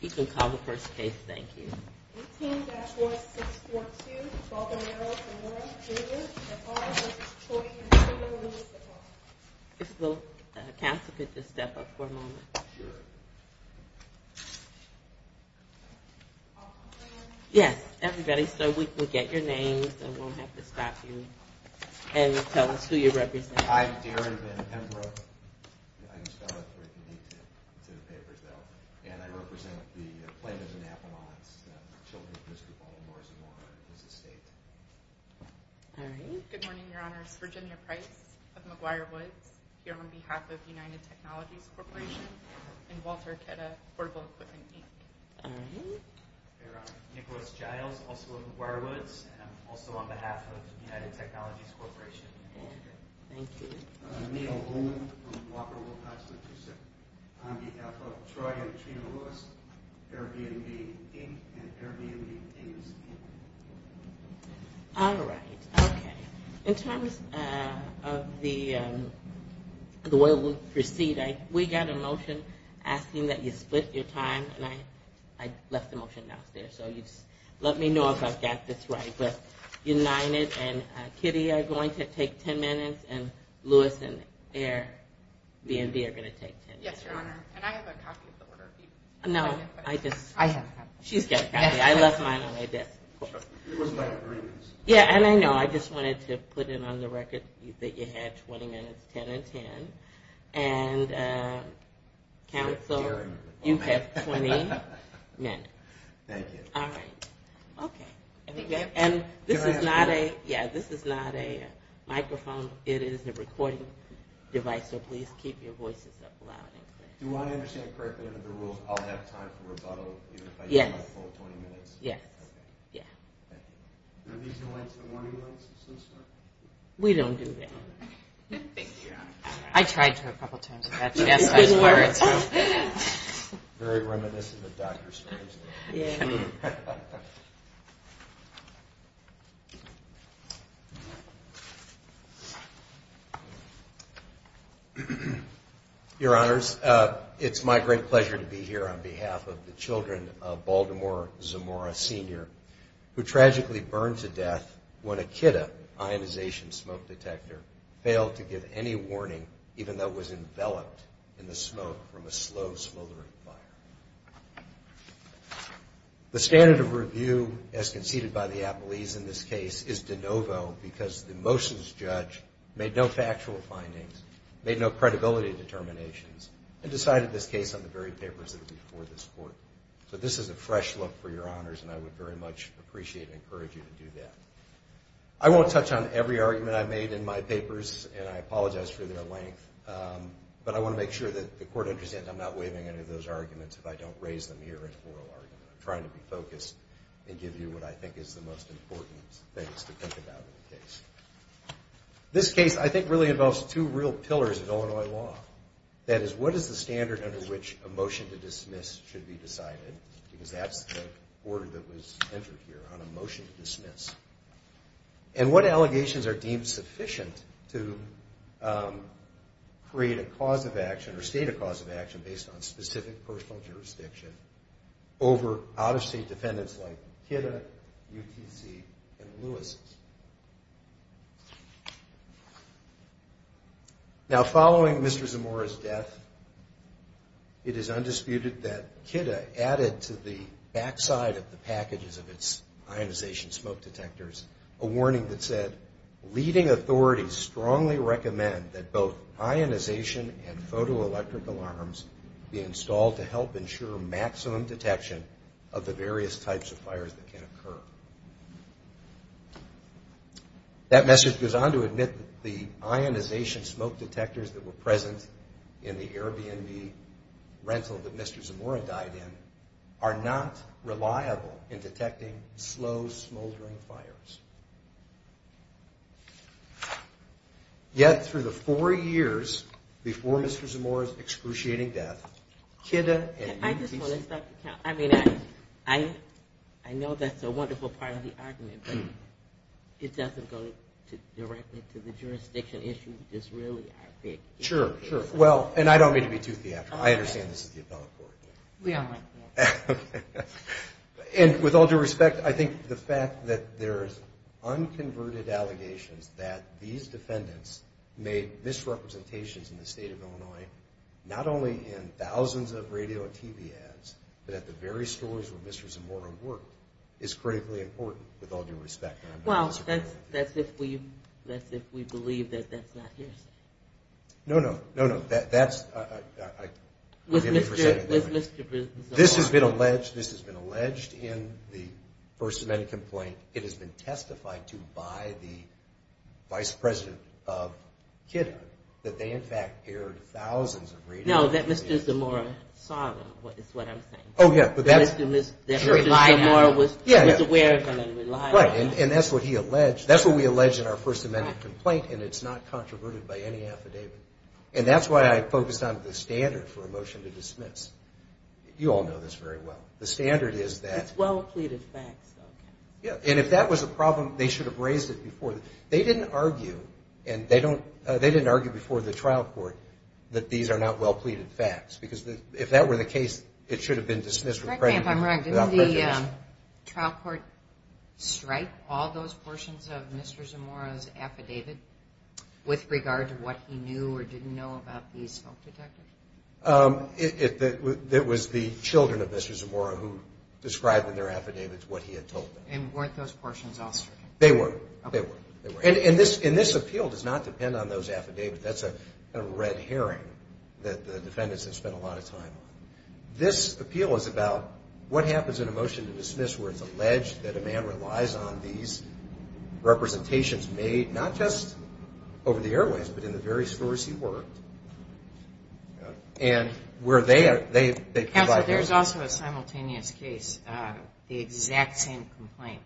You can call the first case. Thank you. It's the council. Could you step up for a moment? Yes, everybody. So we can get your names and we'll have to stop you and tell us who you represent. And I represent the Plano's and Avalon's Children's District of Baltimore and his estate. Good morning, Your Honor. It's Virginia Price of McGuire Woods here on behalf of United Technologies Corporation and Walter Aketa Portable Equipment Inc. Nicholas Giles, also of McGuire Woods, and I'm also on behalf of United Technologies Corporation. Thank you. Neal Holman, on behalf of Troy and Trina Lewis, Airbnb Inc. and Airbnb English. All right. Okay. In terms of the way we'll proceed, we got a motion asking that you split your time and I left the motion downstairs. So you just let me know if I've got this right. United and Kitty are going to take 10 minutes and Lewis and Airbnb are going to take 10 minutes. Yes, Your Honor. And I have a copy of the order. No, I just, she's got a copy. I left mine on my desk. Yeah, and I know I just wanted to put it on the record that you had 20 minutes, 10 and 10. And council, you have 20 minutes. Thank you. All right. Okay. And this is not a, yeah, this is not a microphone. It is a recording device. So please keep your voices up loud and clear. Do I understand correctly under the rules, I'll have time for rebuttal, even if I use my full 20 minutes? Yes. Yeah. We don't do that. I tried to a couple times. Very reminiscent of Dr. Strange. Your Honors, it's my great pleasure to be here on behalf of the children of Baltimore Zamora, Sr., who tragically burned to death when a Kitta ionization smoke detector failed to give any warning, even though it was enveloped in the smoke from a slow smoldering fire. The standard of review as conceded by the appellees in this case is de novo because the motions judge made no factual findings, made no credibility determinations, and decided this case on the very papers that are before this court. So this is a fresh look for your Honors, and I would very much appreciate and encourage you to do that. I won't touch on every argument I made in my papers, and I apologize for their length. But I want to make sure that the court understands I'm not waiving any of those arguments if I don't raise them here as a moral argument. I'm trying to be focused and give you what I think is the most important things to think about in the case. This case, I think, really involves two real pillars of Illinois law. That is, what is the standard under which a motion to dismiss should be decided? Because that's the order that was entered here, on a motion to dismiss. And what allegations are deemed sufficient to create a cause of action, or state a cause of action, based on specific personal jurisdiction over out-of-state defendants like KIDA, UTC, and Lewis? Now, following Mr. Zamora's death, it is undisputed that KIDA added to the backside of the packages of its ionization smoke detectors a warning that said, leading authorities strongly recommend that both ionization and photoelectric alarms be installed to help ensure maximum detection of the various types of fires that can occur. That message goes on to admit that the ionization smoke detectors that were present in the Airbnb rental that Mr. Zamora died in are not reliable in detecting slow, smoldering fires. Yet, through the four years before Mr. Zamora's excruciating death, KIDA and UTC... I just want to stop the count. I mean, I know that's a wonderful part of the argument, but it doesn't go directly to the jurisdiction issue, which is really our big issue. Sure, sure. Well, and I don't mean to be too theatrical. I understand this is the appellate court. We all like that. And with all due respect, I think the fact that there's unconverted allegations that these defendants made misrepresentations in the state of Illinois, not only in thousands of radio and TV ads, but at the very stores where Mr. Zamora worked, is critically important, with all due respect. Well, that's if we believe that that's not his. No, no. No, no. That's... With Mr. Zamora. This has been alleged in the First Amendment complaint. It has been testified to by the vice president of KIDA that they in fact aired thousands of radio... No, that Mr. Zamora saw them, is what I'm saying. Oh, yeah, but that's... That Mr. Zamora was aware of them and relied on them. Right, and that's what he alleged. And it's not controverted by any affidavit. And that's why I focused on the standard for a motion to dismiss. You all know this very well. The standard is that... It's well-pleaded facts, though. Yeah, and if that was the problem, they should have raised it before. They didn't argue before the trial court that these are not well-pleaded facts, because if that were the case, it should have been dismissed with prejudice. I'm sorry, I'm wrong. Didn't the trial court strike all those portions of Mr. Zamora's affidavit with regard to what he knew or didn't know about these smoke detectors? It was the children of Mr. Zamora who described in their affidavits what he had told them. And weren't those portions all stricken? They were. And this appeal does not depend on those affidavits. That's a red herring that the defendants have spent a lot of time on. This appeal is about what happens in a motion to dismiss where it's alleged that a man relies on these representations made, not just over the airways but in the various stores he worked, and where they provide... Counsel, there's also a simultaneous case, the exact same complaint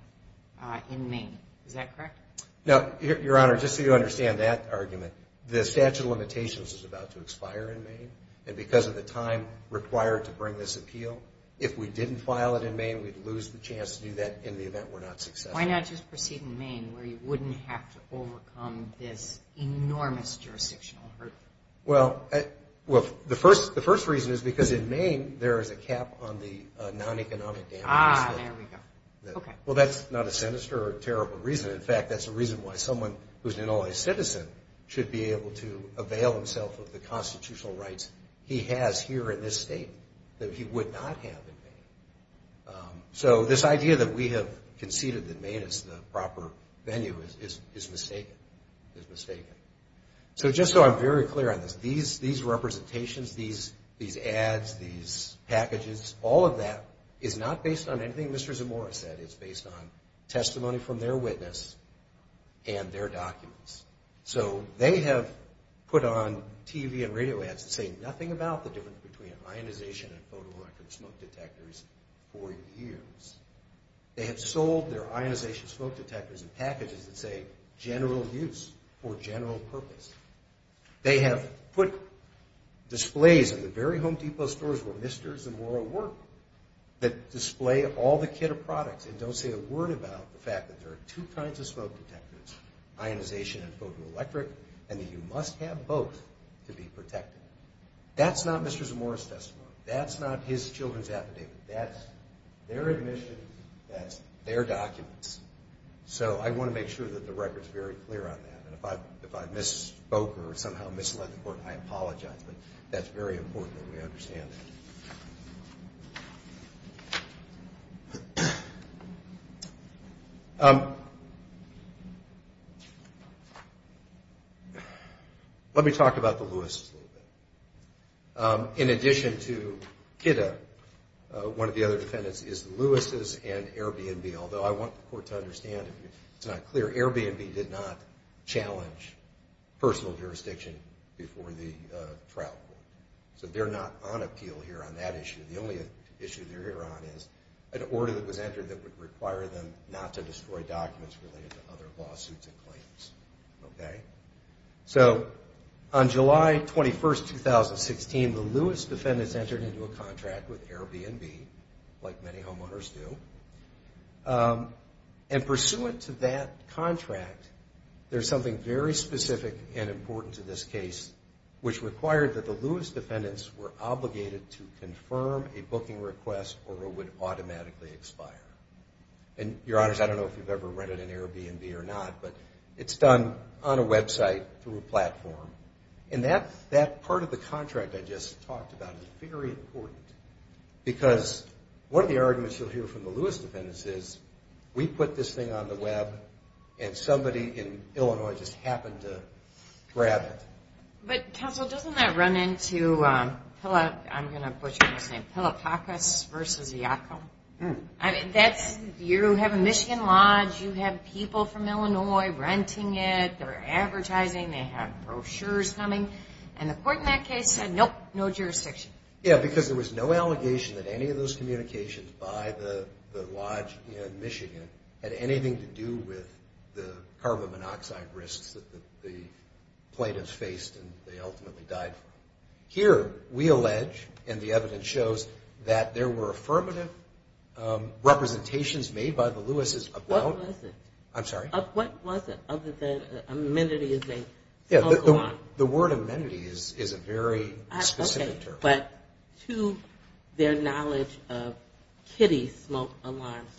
in Maine. Is that correct? No, Your Honor, just so you understand that argument, the statute of limitations is about to expire in Maine, and because of the time required to bring this appeal, if we didn't file it in Maine, we'd lose the chance to do that in the event we're not successful. Why not just proceed in Maine where you wouldn't have to overcome this enormous jurisdictional hurdle? Well, the first reason is because in Maine there is a cap on the non-economic damages. Ah, there we go. Okay. Well, that's not a sinister or terrible reason. In fact, that's the reason why someone who's not only a citizen should be able to avail himself of the constitutional rights he has here in this state that he would not have in Maine. So this idea that we have conceded that Maine is the proper venue is mistaken, is mistaken. So just so I'm very clear on this, these representations, these ads, these packages, all of that is not based on anything Mr. Zamora said. It's based on testimony from their witness and their documents. So they have put on TV and radio ads that say nothing about the difference between ionization and photorecord smoke detectors for years. They have sold their ionization smoke detectors in packages that say general use for general purpose. They have put displays in the very Home Depot stores where Mr. Zamora worked that display all the kit of products and don't say a word about the fact that there are two kinds of smoke detectors, ionization and photoelectric, and that you must have both to be protected. That's not Mr. Zamora's testimony. That's not his children's affidavit. That's their admission. That's their documents. So I want to make sure that the record's very clear on that. And if I misspoke or somehow misled the court, I apologize. But that's very important that we understand that. Let me talk about the Lewises a little bit. In addition to Kitta, one of the other defendants is the Lewises and Airbnb, although I want the court to understand, if it's not clear, Airbnb did not challenge personal jurisdiction before the trial court. So they're not on appeal here on that issue. The only issue they're on is an order that was entered that would require them not to destroy documents related to other lawsuits and claims. So on July 21, 2016, the Lewis defendants entered into a contract with Airbnb, like many homeowners do. And pursuant to that contract, there's something very specific and important to this case which required that the Lewis defendants were obligated to confirm a booking request or it would automatically expire. And, Your Honors, I don't know if you've ever rented an Airbnb or not, but it's done on a website through a platform. And that part of the contract I just talked about is very important because one of the arguments you'll hear from the Lewis defendants is, we put this thing on the web and somebody in Illinois just happened to grab it. But, counsel, doesn't that run into, I'm going to butcher this name, Pilopakis v. Yackel? You have a Michigan Lodge. You have people from Illinois renting it. They're advertising. They have brochures coming. And the court in that case said, nope, no jurisdiction. Yeah, because there was no allegation that any of those communications by the Lodge in Michigan had anything to do with the carbon monoxide risks that the plaintiffs faced and they ultimately died from. Here, we allege, and the evidence shows, that there were affirmative representations made by the Lewis's about. What was it? I'm sorry? What was it other than amenity is a local law? Yeah, the word amenity is a very specific term. But to their knowledge of kiddie smoke alarms,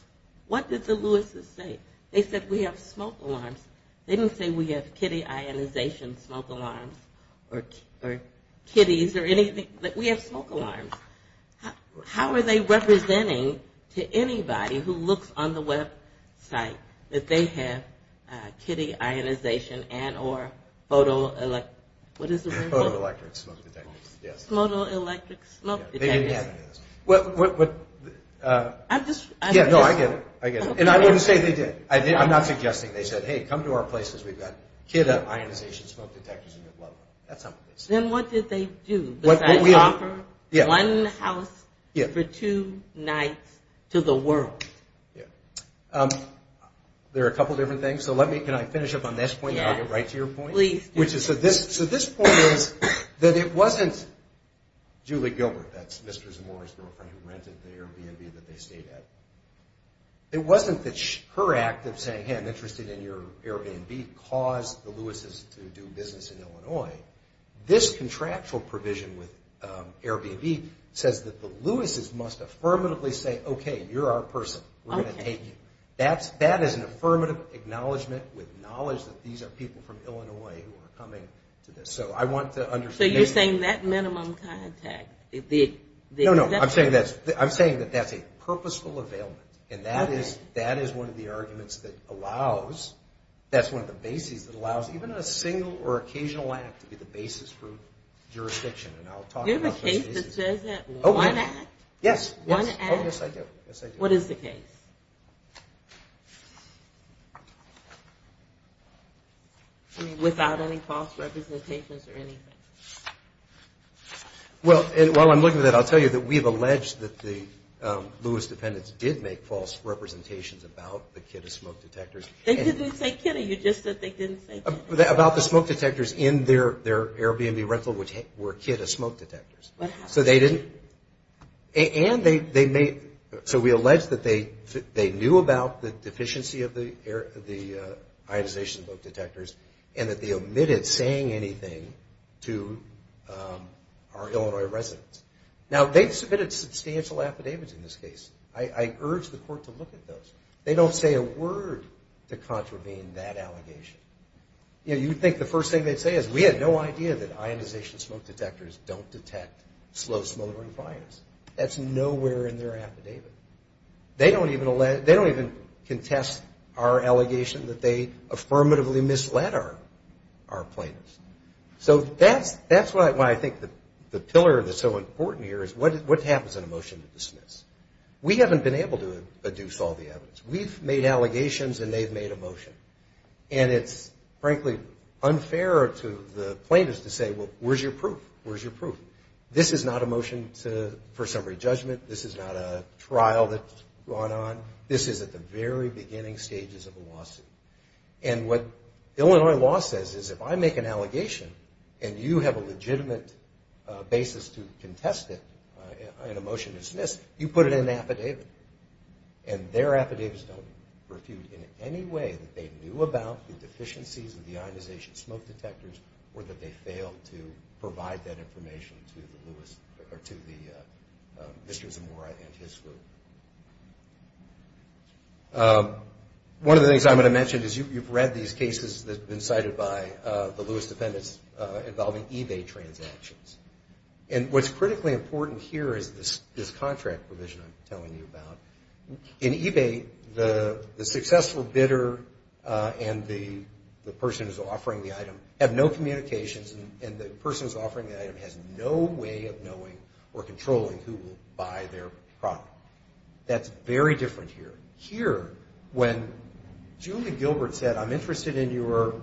what did the Lewis's say? They said, we have smoke alarms. They didn't say we have kiddie ionization smoke alarms or kiddies or anything. We have smoke alarms. How are they representing to anybody who looks on the website that they have kiddie ionization and or photo electric smoke detectors? Yes. Photo electric smoke detectors. They didn't have any of this. I'm just. Yeah, no, I get it. I get it. And I wouldn't say they did. I'm not suggesting they said, hey, come to our place because we've got kiddie ionization smoke detectors and we'd love them. That's not what they said. Then what did they do besides offer one house for two nights to the world? Yeah. There are a couple of different things. So let me, can I finish up on this point and I'll get right to your point? Please do. So this point is that it wasn't Julie Gilbert, that's Mr. Zamora's girlfriend who rented the Airbnb that they stayed at. It wasn't that her act of saying, hey, I'm interested in your Airbnb caused the Louis's to do business in Illinois. This contractual provision with Airbnb says that the Louis's must affirmatively say, okay, you're our person. We're going to take you. That is an affirmative acknowledgement with knowledge that these are people from Illinois who are coming to this. So I want to understand. So you're saying that minimum contract. No, no. I'm saying that that's a purposeful availment, and that is one of the arguments that allows, that's one of the bases that allows even a single or occasional act to be the basis for jurisdiction. And I'll talk about those bases. Do you have a case that says that? One act? Yes. One act? Yes, I do. Yes, I do. What is the case? I mean, without any false representations or anything. Well, while I'm looking at that, I'll tell you that we've alleged that the Louis dependents did make false representations about the kit of smoke detectors. They didn't say kit. You just said they didn't say kit. About the smoke detectors in their Airbnb rental, which were kit of smoke detectors. What happened? And they made, so we allege that they knew about the deficiency of the ionization smoke detectors, and that they omitted saying anything to our Illinois residents. Now, they've submitted substantial affidavits in this case. I urge the court to look at those. They don't say a word to contravene that allegation. You'd think the first thing they'd say is, we had no idea that ionization smoke detectors don't detect slow smoking fires. That's nowhere in their affidavit. They don't even contest our allegation that they affirmatively misled our plaintiffs. So that's why I think the pillar that's so important here is, what happens in a motion to dismiss? We haven't been able to deduce all the evidence. We've made allegations, and they've made a motion. And it's, frankly, unfair to the plaintiffs to say, well, where's your proof? Where's your proof? This is not a motion for summary judgment. This is not a trial that's gone on. This is at the very beginning stages of a lawsuit. And what Illinois law says is, if I make an allegation, and you have a legitimate basis to contest it in a motion to dismiss, you put it in an affidavit. And their affidavits don't refute in any way that they knew about the deficiencies of the ionization smoke detectors or that they failed to provide that information to the Lewis or to the Mr. Zamora and his group. One of the things I'm going to mention is you've read these cases that have been cited by the Lewis defendants involving eBay transactions. And what's critically important here is this contract provision I'm telling you about. In eBay, the successful bidder and the person who's offering the item have no communications, and the person who's offering the item has no way of knowing or controlling who will buy their product. That's very different here. Here, when Julie Gilbert said, I'm interested in your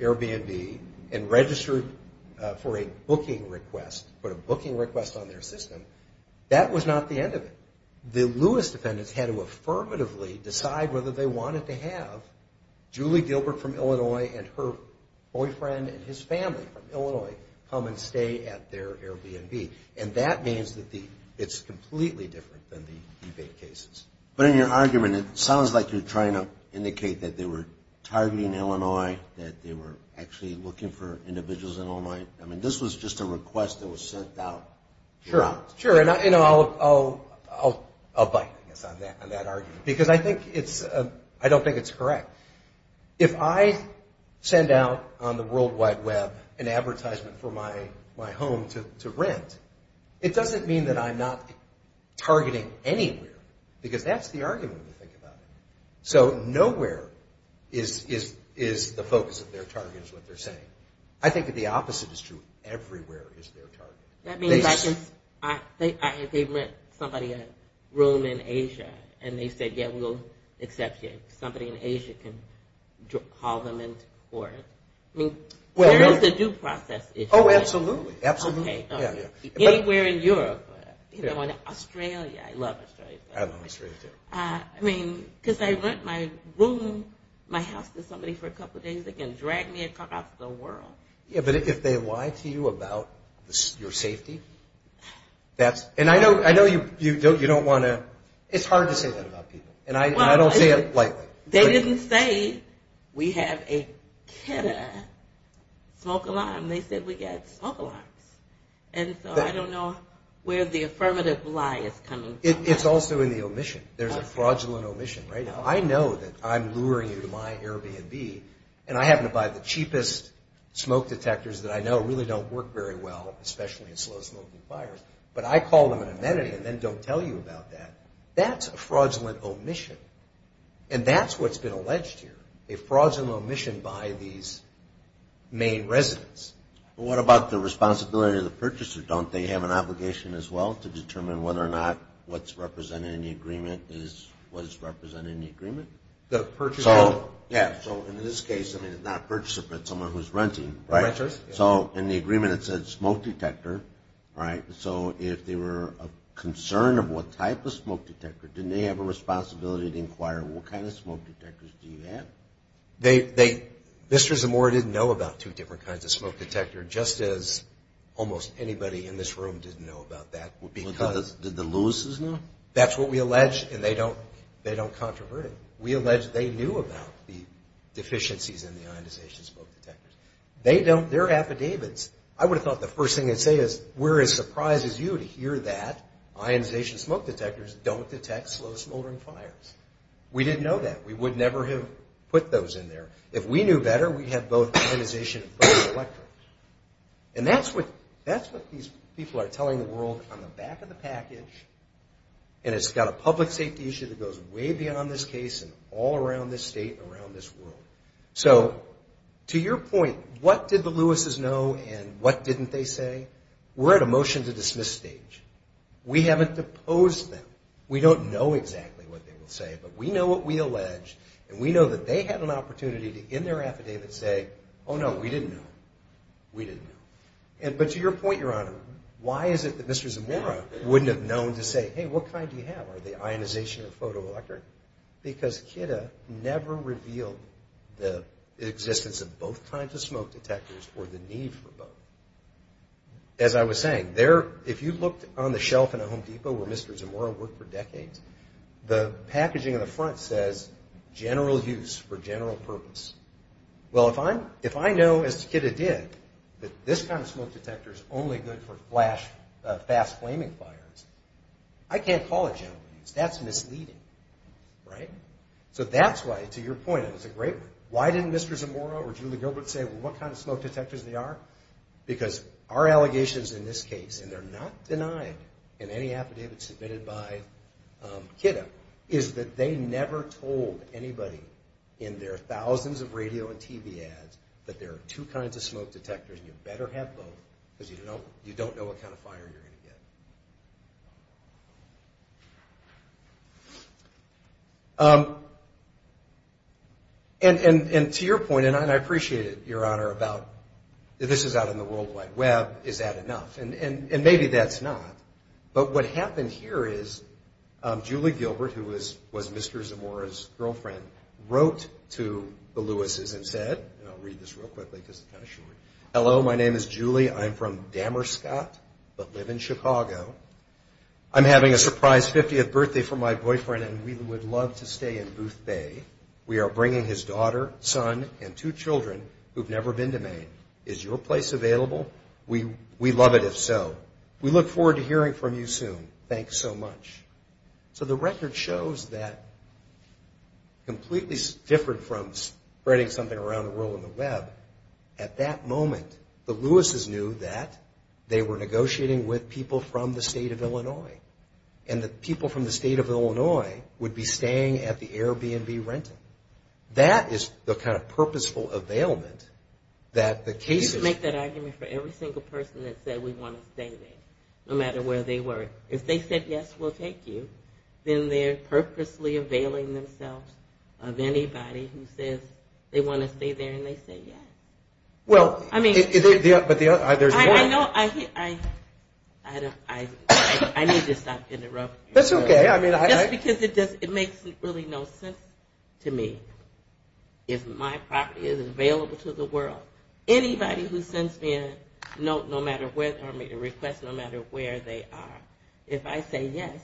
Airbnb and registered for a booking request, put a booking request on their system, that was not the end of it. The Lewis defendants had to affirmatively decide whether they wanted to have Julie Gilbert from Illinois and her boyfriend and his family from Illinois come and stay at their Airbnb. And that means that it's completely different than the eBay cases. But in your argument, it sounds like you're trying to indicate that they were targeting Illinois, that they were actually looking for individuals in Illinois. I mean, this was just a request that was sent out. Sure. And I'll bite, I guess, on that argument. Because I think it's – I don't think it's correct. If I send out on the World Wide Web an advertisement for my home to rent, it doesn't mean that I'm not targeting anywhere. Because that's the argument, if you think about it. So nowhere is the focus of their target is what they're saying. I think that the opposite is true. Everywhere is their target. That means they rent somebody a room in Asia and they say, yeah, we'll accept you. Somebody in Asia can call them into court. I mean, there is a due process issue. Oh, absolutely. Absolutely. Anywhere in Europe. You know, in Australia. I love Australia. I love Australia, too. I mean, because I rent my room, my house to somebody for a couple of days, they can drag me across the world. Yeah, but if they lie to you about your safety, that's – and I know you don't want to – it's hard to say that about people. And I don't say it lightly. They didn't say we have a KEDA smoke alarm. They said we got smoke alarms. And so I don't know where the affirmative lie is coming from. It's also in the omission. There's a fraudulent omission right now. I know that I'm luring you to my Airbnb, and I happen to buy the cheapest smoke detectors that I know really don't work very well, especially in slow-smoking fires, but I call them an amenity and then don't tell you about that. That's a fraudulent omission. And that's what's been alleged here, a fraudulent omission by these main residents. What about the responsibility of the purchaser? Don't they have an obligation as well to determine whether or not what's represented in the agreement is what's represented in the agreement? The purchaser? Yeah, so in this case, I mean, it's not a purchaser, but someone who's renting, right? So in the agreement it said smoke detector, right? So if they were concerned of what type of smoke detector, didn't they have a responsibility to inquire what kind of smoke detectors do you have? They – Mr. Zamora didn't know about two different kinds of smoke detector, just as almost anybody in this room didn't know about that because – Did the Lewises know? That's what we allege, and they don't – they don't controvert it. We allege they knew about the deficiencies in the ionization smoke detectors. They don't – their affidavits, I would have thought the first thing they'd say is, we're as surprised as you to hear that ionization smoke detectors don't detect slow-smoldering fires. We didn't know that. We would never have put those in there. If we knew better, we'd have both ionization and photoelectric. And that's what – that's what these people are telling the world on the back of the package, and it's got a public safety issue that goes way beyond this case and all around this state and around this world. So to your point, what did the Lewises know and what didn't they say? We're at a motion-to-dismiss stage. We haven't deposed them. We don't know exactly what they will say, but we know what we allege, and we know that they had an opportunity in their affidavit to say, oh, no, we didn't know. We didn't know. But to your point, Your Honor, why is it that Mr. Zamora wouldn't have known to say, hey, what kind do you have? Are they ionization or photoelectric? Because KIDA never revealed the existence of both kinds of smoke detectors or the need for both. As I was saying, if you looked on the shelf in a Home Depot where Mr. Zamora worked for decades, the packaging on the front says general use for general purpose. Well, if I know, as KIDA did, that this kind of smoke detector is only good for flash, fast flaming fires, I can't call it general use. That's misleading, right? So that's why, to your point, it was a great one. Why didn't Mr. Zamora or Julie Gilbert say, well, what kind of smoke detectors they are? Because our allegations in this case, and they're not denied in any affidavit submitted by KIDA, is that they never told anybody in their thousands of radio and TV ads that there are two kinds of smoke detectors and you better have both because you don't know what kind of fire you're going to get. And to your point, and I appreciate it, Your Honor, about this is out on the World Wide Web, is that enough? And maybe that's not. But what happened here is Julie Gilbert, who was Mr. Zamora's girlfriend, wrote to the Lewis's and said, and I'll read this real quickly because it's kind of short, Hello, my name is Julie. I'm from Damerscott but live in Chicago. I'm having a surprise 50th birthday for my boyfriend and we would love to stay in Booth Bay. We are bringing his daughter, son, and two children who've never been to Maine. Is your place available? We'd love it if so. We look forward to hearing from you soon. Thanks so much. So the record shows that completely different from spreading something around the world on the web, at that moment the Lewis's knew that they were negotiating with people from the state of Illinois and that people from the state of Illinois would be staying at the Airbnb renting. That is the kind of purposeful availment that the cases You should make that argument for every single person that said we want to stay there no matter where they were. If they said yes, we'll take you. Then they're purposely availing themselves of anybody who says they want to stay there and they say yes. Well, but there's more. I need to stop interrupting you. That's okay. Just because it makes really no sense to me. If my property is available to the world, anybody who sends me a request no matter where they are, if I say yes,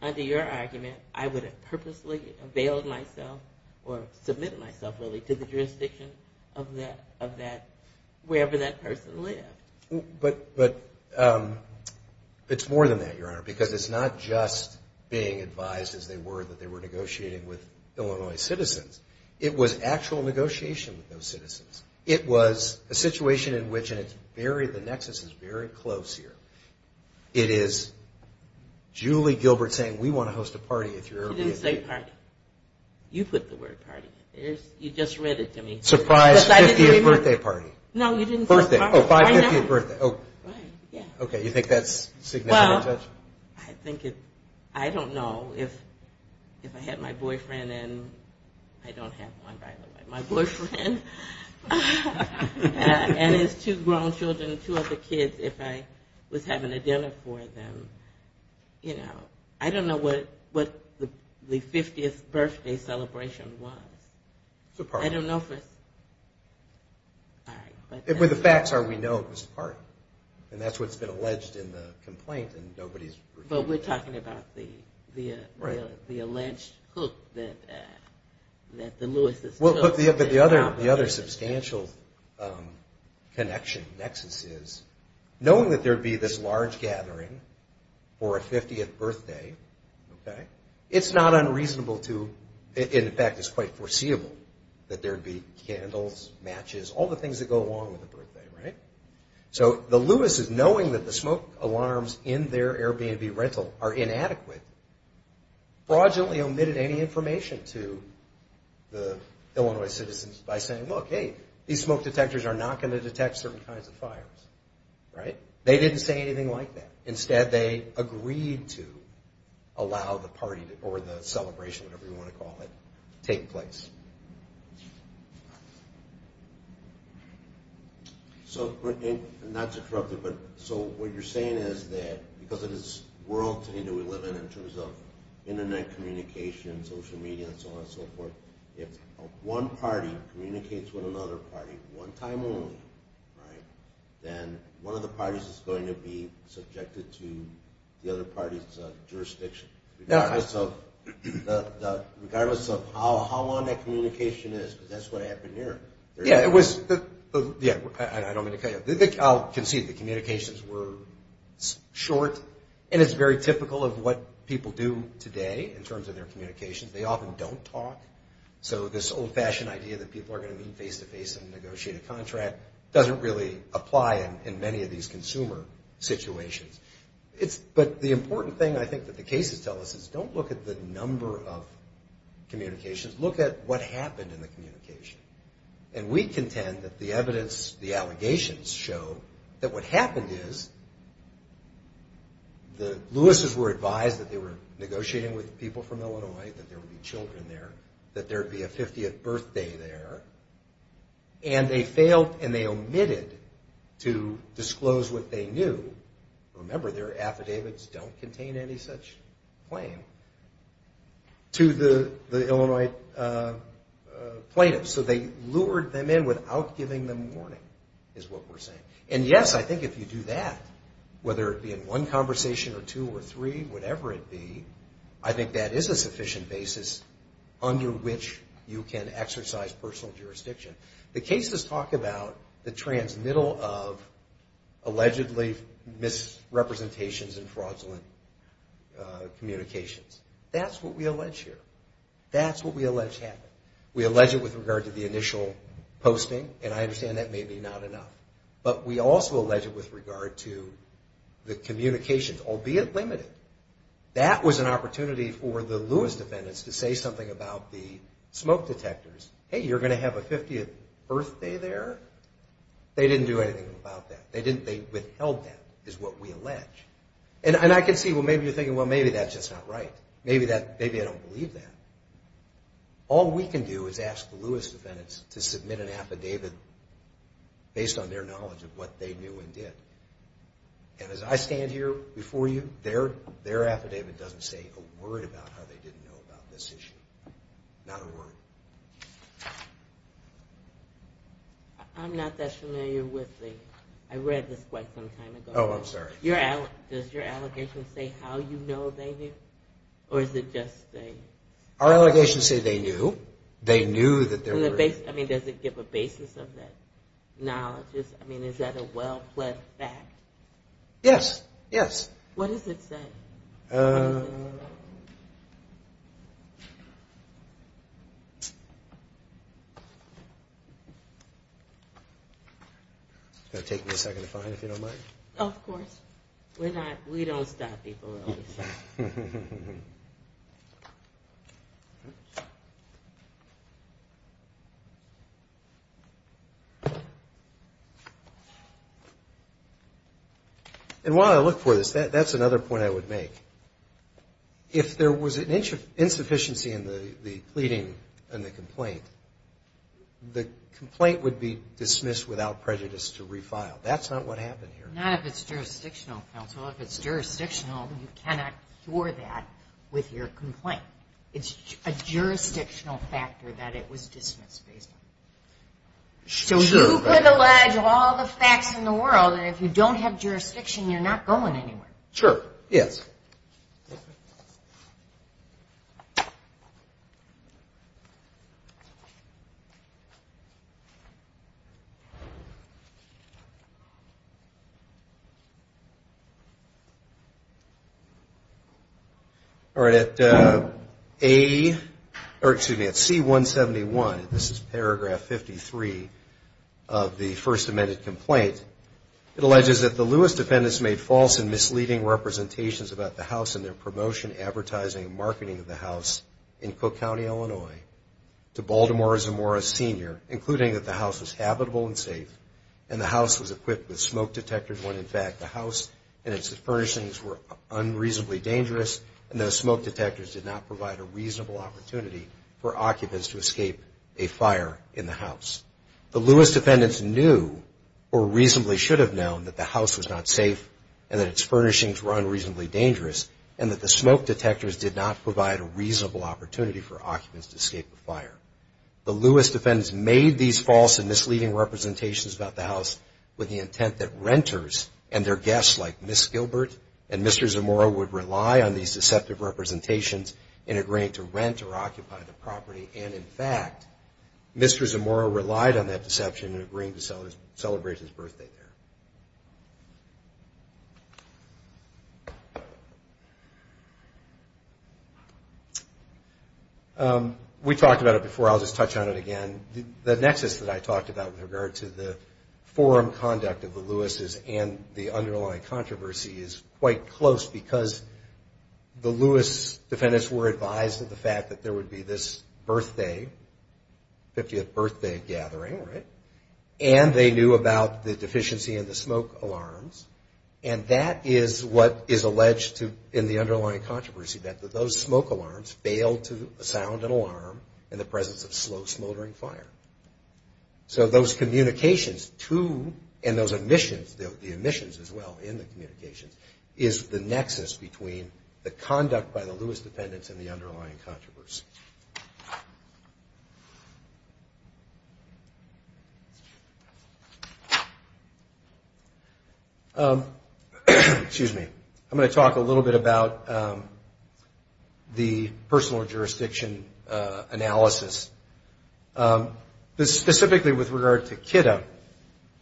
under your argument, I would have purposely availed myself or submitted myself really to the jurisdiction of that wherever that person lived. But it's more than that, Your Honor, because it's not just being advised as they were that they were negotiating with Illinois citizens. It was actual negotiation with those citizens. It was a situation in which, and it's very, the nexus is very close here. It is Julie Gilbert saying we want to host a party if you're Airbnb. You didn't say party. You put the word party. You just read it to me. Surprise 50th birthday party. No, you didn't say party. Oh, 550th birthday. Right, yeah. Okay, you think that's significant, Judge? I think it, I don't know. If I had my boyfriend, and I don't have one, by the way. My boyfriend and his two grown children, two other kids, if I was having a dinner for them, you know, I don't know what the 50th birthday celebration was. It's a party. I don't know if it's, all right. The facts are we know it was a party. And that's what's been alleged in the complaint. But we're talking about the alleged hook that the Lewis took. But the other substantial connection, nexus, is knowing that there would be this large gathering for a 50th birthday, it's not unreasonable to, in fact, it's quite foreseeable that there would be candles, matches, all the things that go along with a birthday, right? So the Lewis' knowing that the smoke alarms in their Airbnb rental are inadequate, fraudulently omitted any information to the Illinois citizens by saying, look, hey, these smoke detectors are not going to detect certain kinds of fires. Right? They didn't say anything like that. Instead, they agreed to allow the party, or the celebration, whatever you want to call it, take place. So not to corrupt you, but so what you're saying is that because of this world today that we live in in terms of Internet communication, social media, and so on and so forth, if one party communicates with another party one time only, right, then one of the parties is going to be subjected to the other party's jurisdiction. Regardless of how long that communication is, because that's what happened here. Yeah, it was, yeah, I don't mean to cut you off. I'll concede the communications were short, and it's very typical of what people do today in terms of their communications. They often don't talk. So this old-fashioned idea that people are going to meet face-to-face and negotiate a contract doesn't really apply in many of these consumer situations. But the important thing I think that the cases tell us is don't look at the number of communications. Look at what happened in the communication. And we contend that the evidence, the allegations, show that what happened is the Lewis's were advised that they were negotiating with people from Illinois, that there would be children there, that there would be a 50th birthday there. And they failed and they omitted to disclose what they knew. Remember, their affidavits don't contain any such claim to the Illinois plaintiffs. So they lured them in without giving them warning is what we're saying. And yes, I think if you do that, whether it be in one conversation or two or three, whatever it be, I think that is a sufficient basis under which you can exercise personal jurisdiction. The cases talk about the transmittal of allegedly misrepresentations and fraudulent communications. That's what we allege here. That's what we allege happened. We allege it with regard to the initial posting, and I understand that may be not enough. But we also allege it with regard to the communications, albeit limited. That was an opportunity for the Lewis defendants to say something about the smoke detectors. Hey, you're going to have a 50th birthday there? They didn't do anything about that. They withheld that is what we allege. And I can see, well, maybe you're thinking, well, maybe that's just not right. Maybe I don't believe that. All we can do is ask the Lewis defendants to submit an affidavit based on their knowledge of what they knew and did. And as I stand here before you, their affidavit doesn't say a word about how they didn't know about this issue. Not a word. I'm not that familiar with the – I read this quite some time ago. Oh, I'm sorry. Does your allegation say how you know they knew, or is it just a – They knew that there were – I mean, does it give a basis of that knowledge? I mean, is that a well-pledged fact? Yes, yes. What does it say? It's going to take me a second to find if you don't mind. Of course. We're not – we don't stop people. And while I look for this, that's another point I would make. If there was an insufficiency in the pleading and the complaint, the complaint would be dismissed without prejudice to refile. That's not what happened here. Not if it's jurisdictional, counsel. If it's jurisdictional, you cannot cure that with your complaint. It's a jurisdictional factor that it was dismissed based on. So you could allege all the facts in the world, and if you don't have jurisdiction, you're not going anywhere. Sure. Yes. Thank you. All right. At A – or, excuse me, at C-171 – this is paragraph 53 of the First Amendment complaint – it alleges that the Lewis defendants made false and misleading representations about the house and their promotion, advertising, and marketing of the house in Cook County, Illinois, to Baltimore as a Morris senior, including that the house was habitable and safe and the house was equipped with smoke detectors when, in fact, the house and its furnishings were unreasonably dangerous and those smoke detectors did not provide a reasonable opportunity for occupants to escape a fire in the house. The Lewis defendants knew, or reasonably should have known, that the house was not safe and that its furnishings were unreasonably dangerous and that the smoke detectors did not provide a reasonable opportunity for occupants to escape a fire. The Lewis defendants made these false and misleading representations about the house with the intent that renters and their guests, like Ms. Gilbert and Mr. Zamora, would rely on these deceptive representations in agreeing to rent or occupy the property. And, in fact, Mr. Zamora relied on that deception in agreeing to celebrate his birthday there. We talked about it before. I'll just touch on it again. The nexus that I talked about with regard to the forum conduct of the Lewises and the underlying controversy is quite close because the Lewis defendants were advised of the fact that there would be this birthday, 50th birthday gathering, right? And they knew about the deficiency in the smoke alarms and that is what is alleged to, in the underlying controversy, that those smoke alarms failed to sound an alarm in the presence of slow smoldering fire. So those communications, too, and those omissions, the omissions as well in the communications, is the nexus between the conduct by the Lewis defendants and the underlying controversy. Excuse me. I'm going to talk a little bit about the personal jurisdiction analysis. Specifically with regard to Kitta,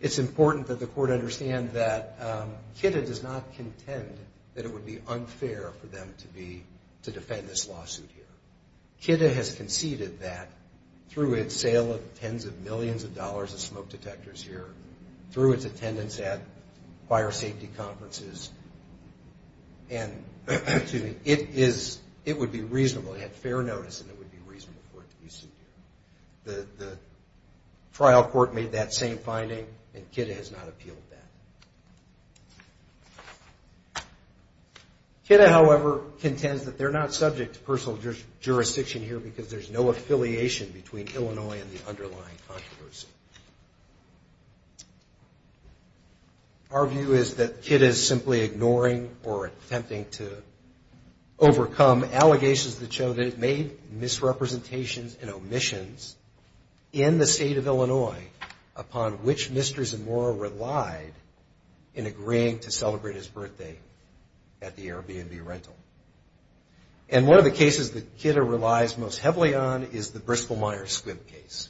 it's important that the court understand that Kitta does not contend that it would be unfair for them to defend this lawsuit here. Kitta has conceded that through its sale of tens of millions of dollars of smoke detectors here, through its attendance at fire safety conferences, it would be reasonable. It had fair notice and it would be reasonable for it to be sued here. The trial court made that same finding and Kitta has not appealed that. Kitta, however, contends that they're not subject to personal jurisdiction here because there's no affiliation between Illinois and the underlying controversy. Our view is that Kitta is simply ignoring or attempting to overcome allegations that show that it made misrepresentations and omissions in the state of Illinois upon which Mr. Zamora relied in agreeing to celebrate his birthday at the Airbnb rental. And one of the cases that Kitta relies most heavily on is the Bristol-Myers-Squibb case.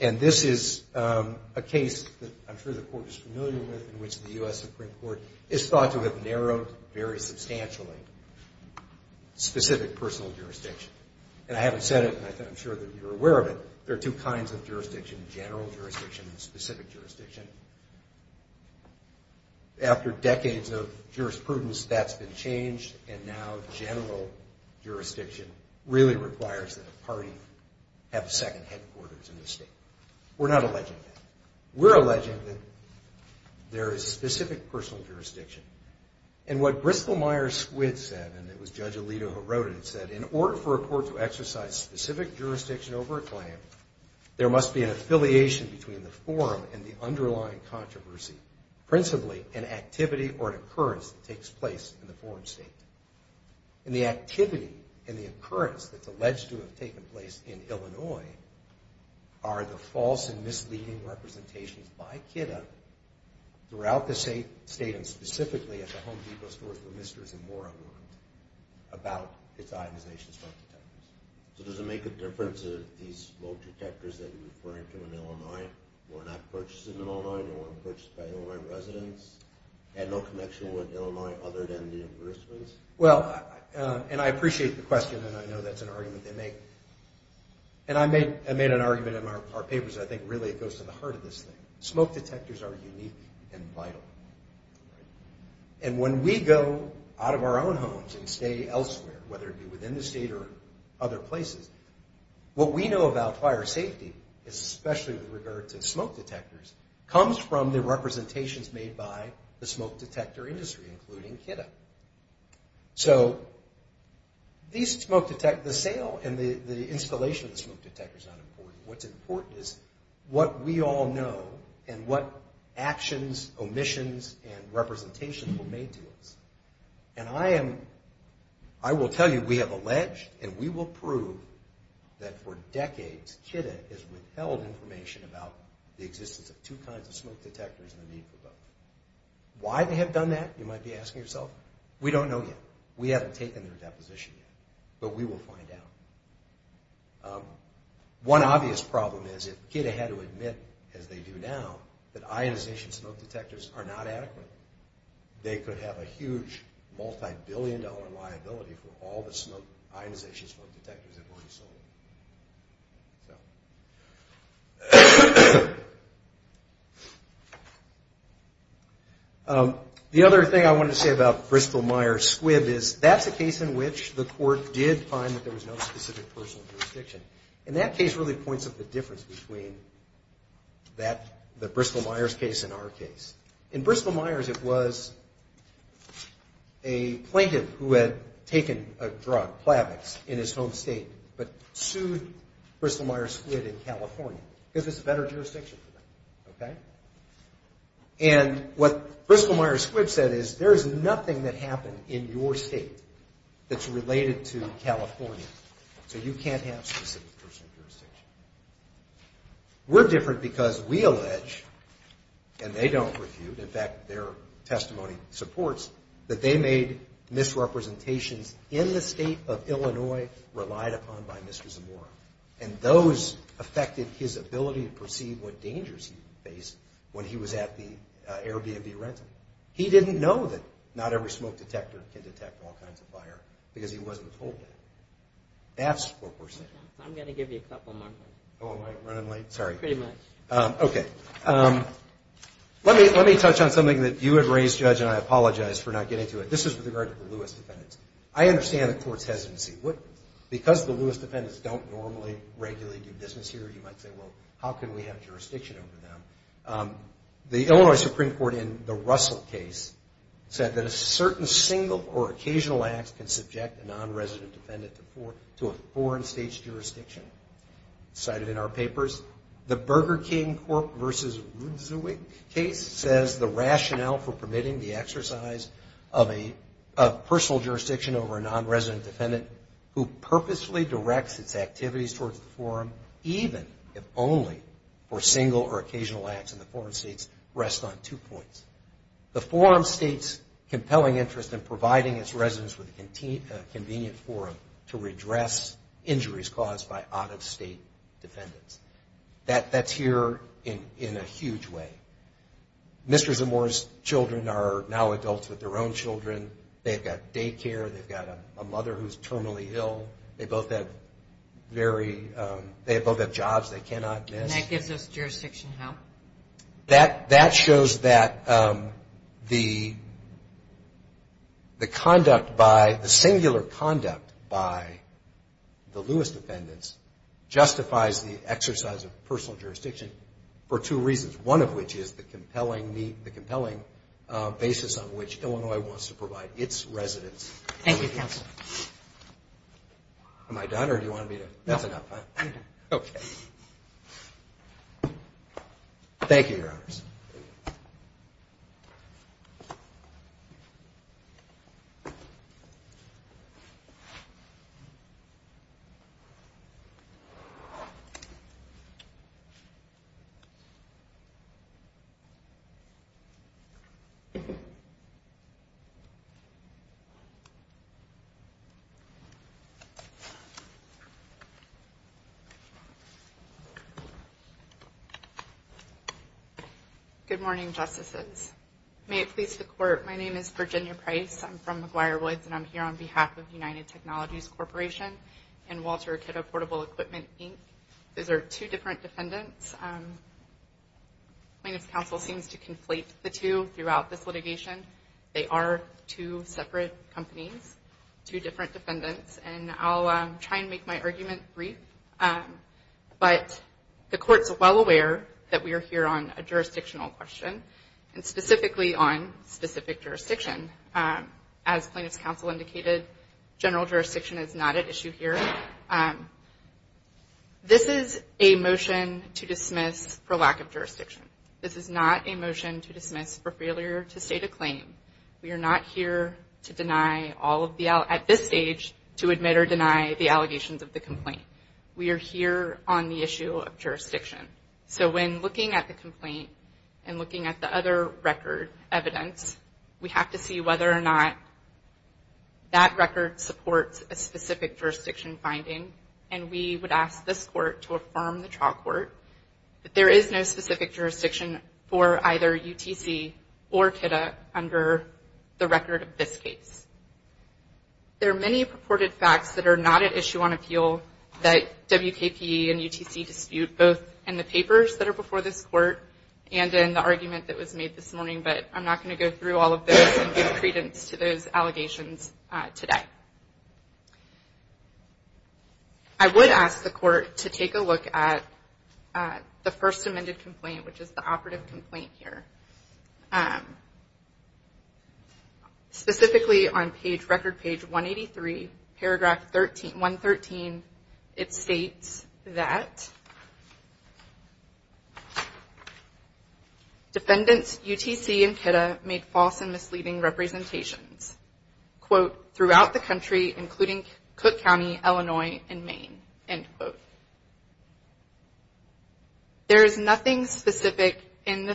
And this is a case that I'm sure the court is familiar with in which the U.S. Supreme Court is thought to have narrowed very substantially. Specific personal jurisdiction. And I haven't said it and I'm sure that you're aware of it. There are two kinds of jurisdiction, general jurisdiction and specific jurisdiction. After decades of jurisprudence, that's been changed and now general jurisdiction really requires that a party have a second headquarters in the state. We're not alleging that. We're alleging that there is specific personal jurisdiction. And what Bristol-Myers-Squibb said, and it was Judge Alito who wrote it, said in order for a court to exercise specific jurisdiction over a claim, there must be an affiliation between the forum and the underlying controversy, principally an activity or an occurrence that takes place in the forum state. And the activity and the occurrence that's alleged to have taken place in Illinois are the false and misleading representations by Kitta throughout the state and specifically at the Home Depot stores where Mr. is and more are warned about its ionization smoke detectors. So does it make a difference if these smoke detectors that you're referring to in Illinois were not purchased in Illinois, they weren't purchased by Illinois residents, had no connection with Illinois other than the reimbursements? Well, and I appreciate the question and I know that's an argument they make. And I made an argument in our papers, I think really it goes to the heart of this thing. Smoke detectors are unique and vital. And when we go out of our own homes and stay elsewhere, whether it be within the state or other places, what we know about fire safety, especially with regard to smoke detectors, comes from the representations made by the smoke detector industry, including Kitta. So the sale and the installation of the smoke detector is not important. What's important is what we all know and what actions, omissions, and representations were made to us. And I will tell you we have alleged and we will prove that for decades Kitta has withheld information about the existence of two kinds of smoke detectors and the need for both. Why they have done that, you might be asking yourself. We don't know yet. We haven't taken their deposition yet. But we will find out. One obvious problem is if Kitta had to admit, as they do now, that ionization smoke detectors are not adequate, they could have a huge multi-billion dollar liability for all the ionization smoke detectors that will be sold. The other thing I wanted to say about Bristol-Myers-Squibb is that's a case in which the court did find that there was no specific personal jurisdiction. And that case really points up the difference between the Bristol-Myers case and our case. In Bristol-Myers, it was a plaintiff who had taken a drug, Plavix, in his home state, but sued Bristol-Myers-Squibb in California because it's a better jurisdiction for them. And what Bristol-Myers-Squibb said is there is nothing that happened in your state that's related to California. So you can't have specific personal jurisdiction. We're different because we allege, and they don't refute, in fact, their testimony supports, that they made misrepresentations in the state of Illinois relied upon by Mr. Zamora. And those affected his ability to perceive what dangers he faced when he was at the Airbnb rental. He didn't know that not every smoke detector can detect all kinds of fire because he wasn't told it. That's what we're saying. I'm going to give you a couple more minutes. Oh, am I running late? Sorry. Pretty much. Okay. Let me touch on something that you had raised, Judge, and I apologize for not getting to it. This is with regard to the Lewis defendants. I understand the court's hesitancy. Because the Lewis defendants don't normally regularly do business here, you might say, well, how can we have jurisdiction over them? The Illinois Supreme Court, in the Russell case, said that a certain single or occasional act can subject a nonresident defendant to a foreign state's jurisdiction. It's cited in our papers. The Burger King versus Rudzewick case says the rationale for permitting the exercise of personal jurisdiction over a nonresident defendant who purposely directs its activities towards the forum, even if only for single or occasional acts in the foreign states, rests on two points. The forum states compelling interest in providing its residents with a convenient forum to redress injuries caused by out-of-state defendants. That's here in a huge way. Mr. Zamora's children are now adults with their own children. They've got daycare. They've got a mother who's terminally ill. They both have jobs they cannot miss. And that gives us jurisdiction, how? That shows that the conduct by, the singular conduct by the Lewis defendants, justifies the exercise of personal jurisdiction for two reasons, one of which is the compelling basis on which Illinois wants to provide its residents. Thank you, counsel. Am I done or do you want me to? That's enough, huh? You're done. Okay. Thank you, Your Honors. Good morning, Justices. May it please the Court, my name is Virginia Price. I'm from McGuire Woods, and I'm here on behalf of United Technologies Corporation and Walter Akita Portable Equipment, Inc. Those are two different defendants. Plaintiff's counsel seems to conflate the two throughout this litigation. They are two separate companies, two different defendants, and I'll try and make my argument brief. But the Court's well aware that we are here on a jurisdictional question and specifically on specific jurisdiction. As plaintiff's counsel indicated, general jurisdiction is not at issue here. This is a motion to dismiss for lack of jurisdiction. This is not a motion to dismiss for failure to state a claim. We are not here at this stage to admit or deny the allegations of the complaint. We are here on the issue of jurisdiction. So when looking at the complaint and looking at the other record evidence, we have to see whether or not that record supports a specific jurisdiction finding, and we would ask this Court to affirm the trial court that there is no specific jurisdiction for either UTC or Akita under the record of this case. There are many purported facts that are not at issue on appeal that WKPE and UTC dispute, both in the papers that are before this Court and in the argument that was made this morning, but I'm not going to go through all of this and give credence to those allegations today. I would ask the Court to take a look at the first amended complaint, which is the operative complaint here. Specifically on record page 183, paragraph 113, it states that defendants UTC and Akita made false and misleading representations, quote, throughout the country including Cook County, Illinois, and Maine, end quote. There is nothing specific in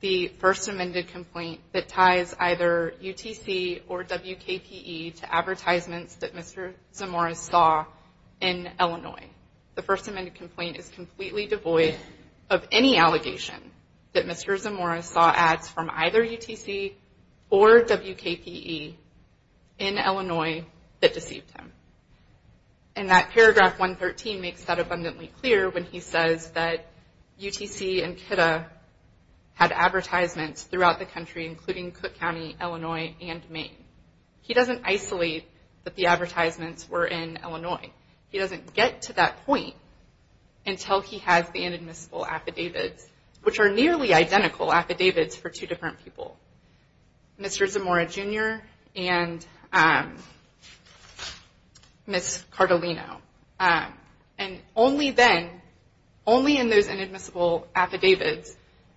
the first amended complaint that ties either UTC or WKPE to advertisements that Mr. Zamora saw in Illinois. The first amended complaint is completely devoid of any allegation that Mr. Zamora saw ads from either UTC or WKPE in Illinois that deceived him. And that paragraph 113 makes that abundantly clear when he says that UTC and Akita had advertisements throughout the country including Cook County, Illinois, and Maine. He doesn't isolate that the advertisements were in Illinois. He doesn't get to that point until he has the inadmissible affidavits, which are nearly identical affidavits for two different people, Mr. Zamora Jr. and Ms. Cardellino. And only then, only in those inadmissible affidavits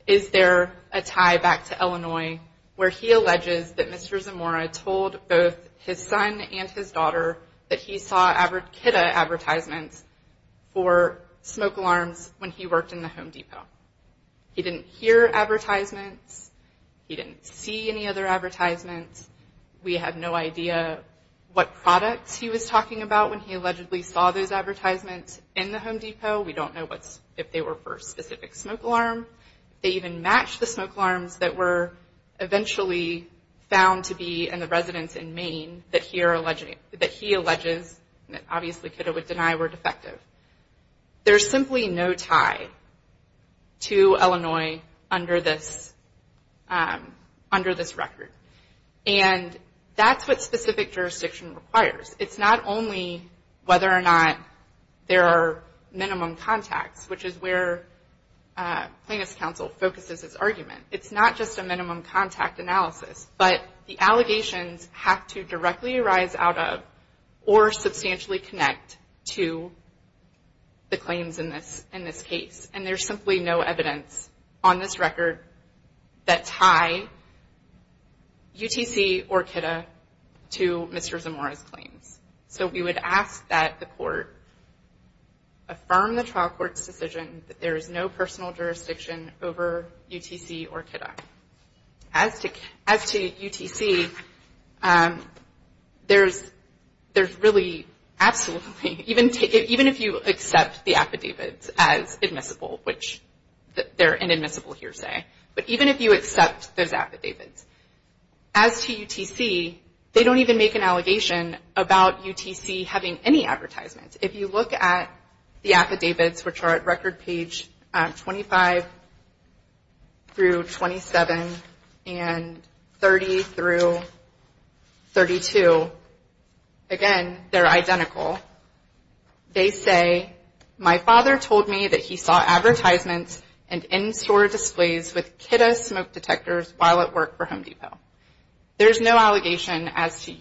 is there a tie back to Illinois where he alleges that Mr. Zamora told both his son and his daughter that he saw Akita advertisements for smoke alarms when he worked in the Home Depot. He didn't hear advertisements. He didn't see any other advertisements. We have no idea what products he was talking about when he allegedly saw those advertisements in the Home Depot. We don't know if they were for a specific smoke alarm. They even match the smoke alarms that were eventually found to be in the residence in Maine that he alleges that obviously Akita would deny were defective. There's simply no tie to Illinois under this record. And that's what specific jurisdiction requires. It's not only whether or not there are minimum contacts, which is where Plaintiffs' Counsel focuses its argument. It's not just a minimum contact analysis, but the allegations have to directly arise out of or substantially connect to the claims in this case. And there's simply no evidence on this record that tie UTC or Akita to Mr. Zamora's claims. So we would ask that the court affirm the trial court's decision that there is no personal jurisdiction over UTC or Akita. As to UTC, there's really absolutely, even if you accept the affidavits as admissible, which they're an admissible hearsay, but even if you accept those affidavits, as to UTC, they don't even make an allegation about UTC having any advertisements. If you look at the affidavits, which are at record page 25 through 27 and 30 through 32, again, they're identical. They say, my father told me that he saw advertisements and in-store displays with Kita smoke detectors while at work for Home Depot. There's no allegation as to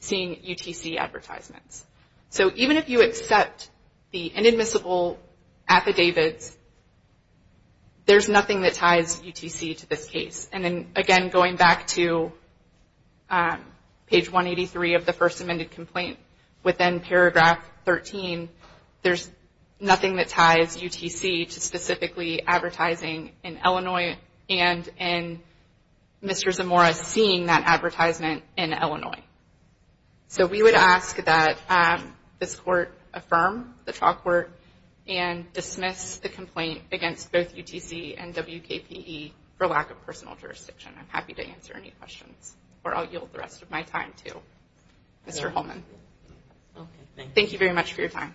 seeing UTC advertisements. So even if you accept the inadmissible affidavits, there's nothing that ties UTC to this case. And then, again, going back to page 183 of the first amended complaint, within paragraph 13, there's nothing that ties UTC to specifically advertising in Illinois and in Mr. Zamora seeing that advertisement in Illinois. So we would ask that this court affirm the trial court and dismiss the complaint against both UTC and WKPE for lack of personal jurisdiction. I'm happy to answer any questions, or I'll yield the rest of my time to Mr. Holman. Thank you very much for your time.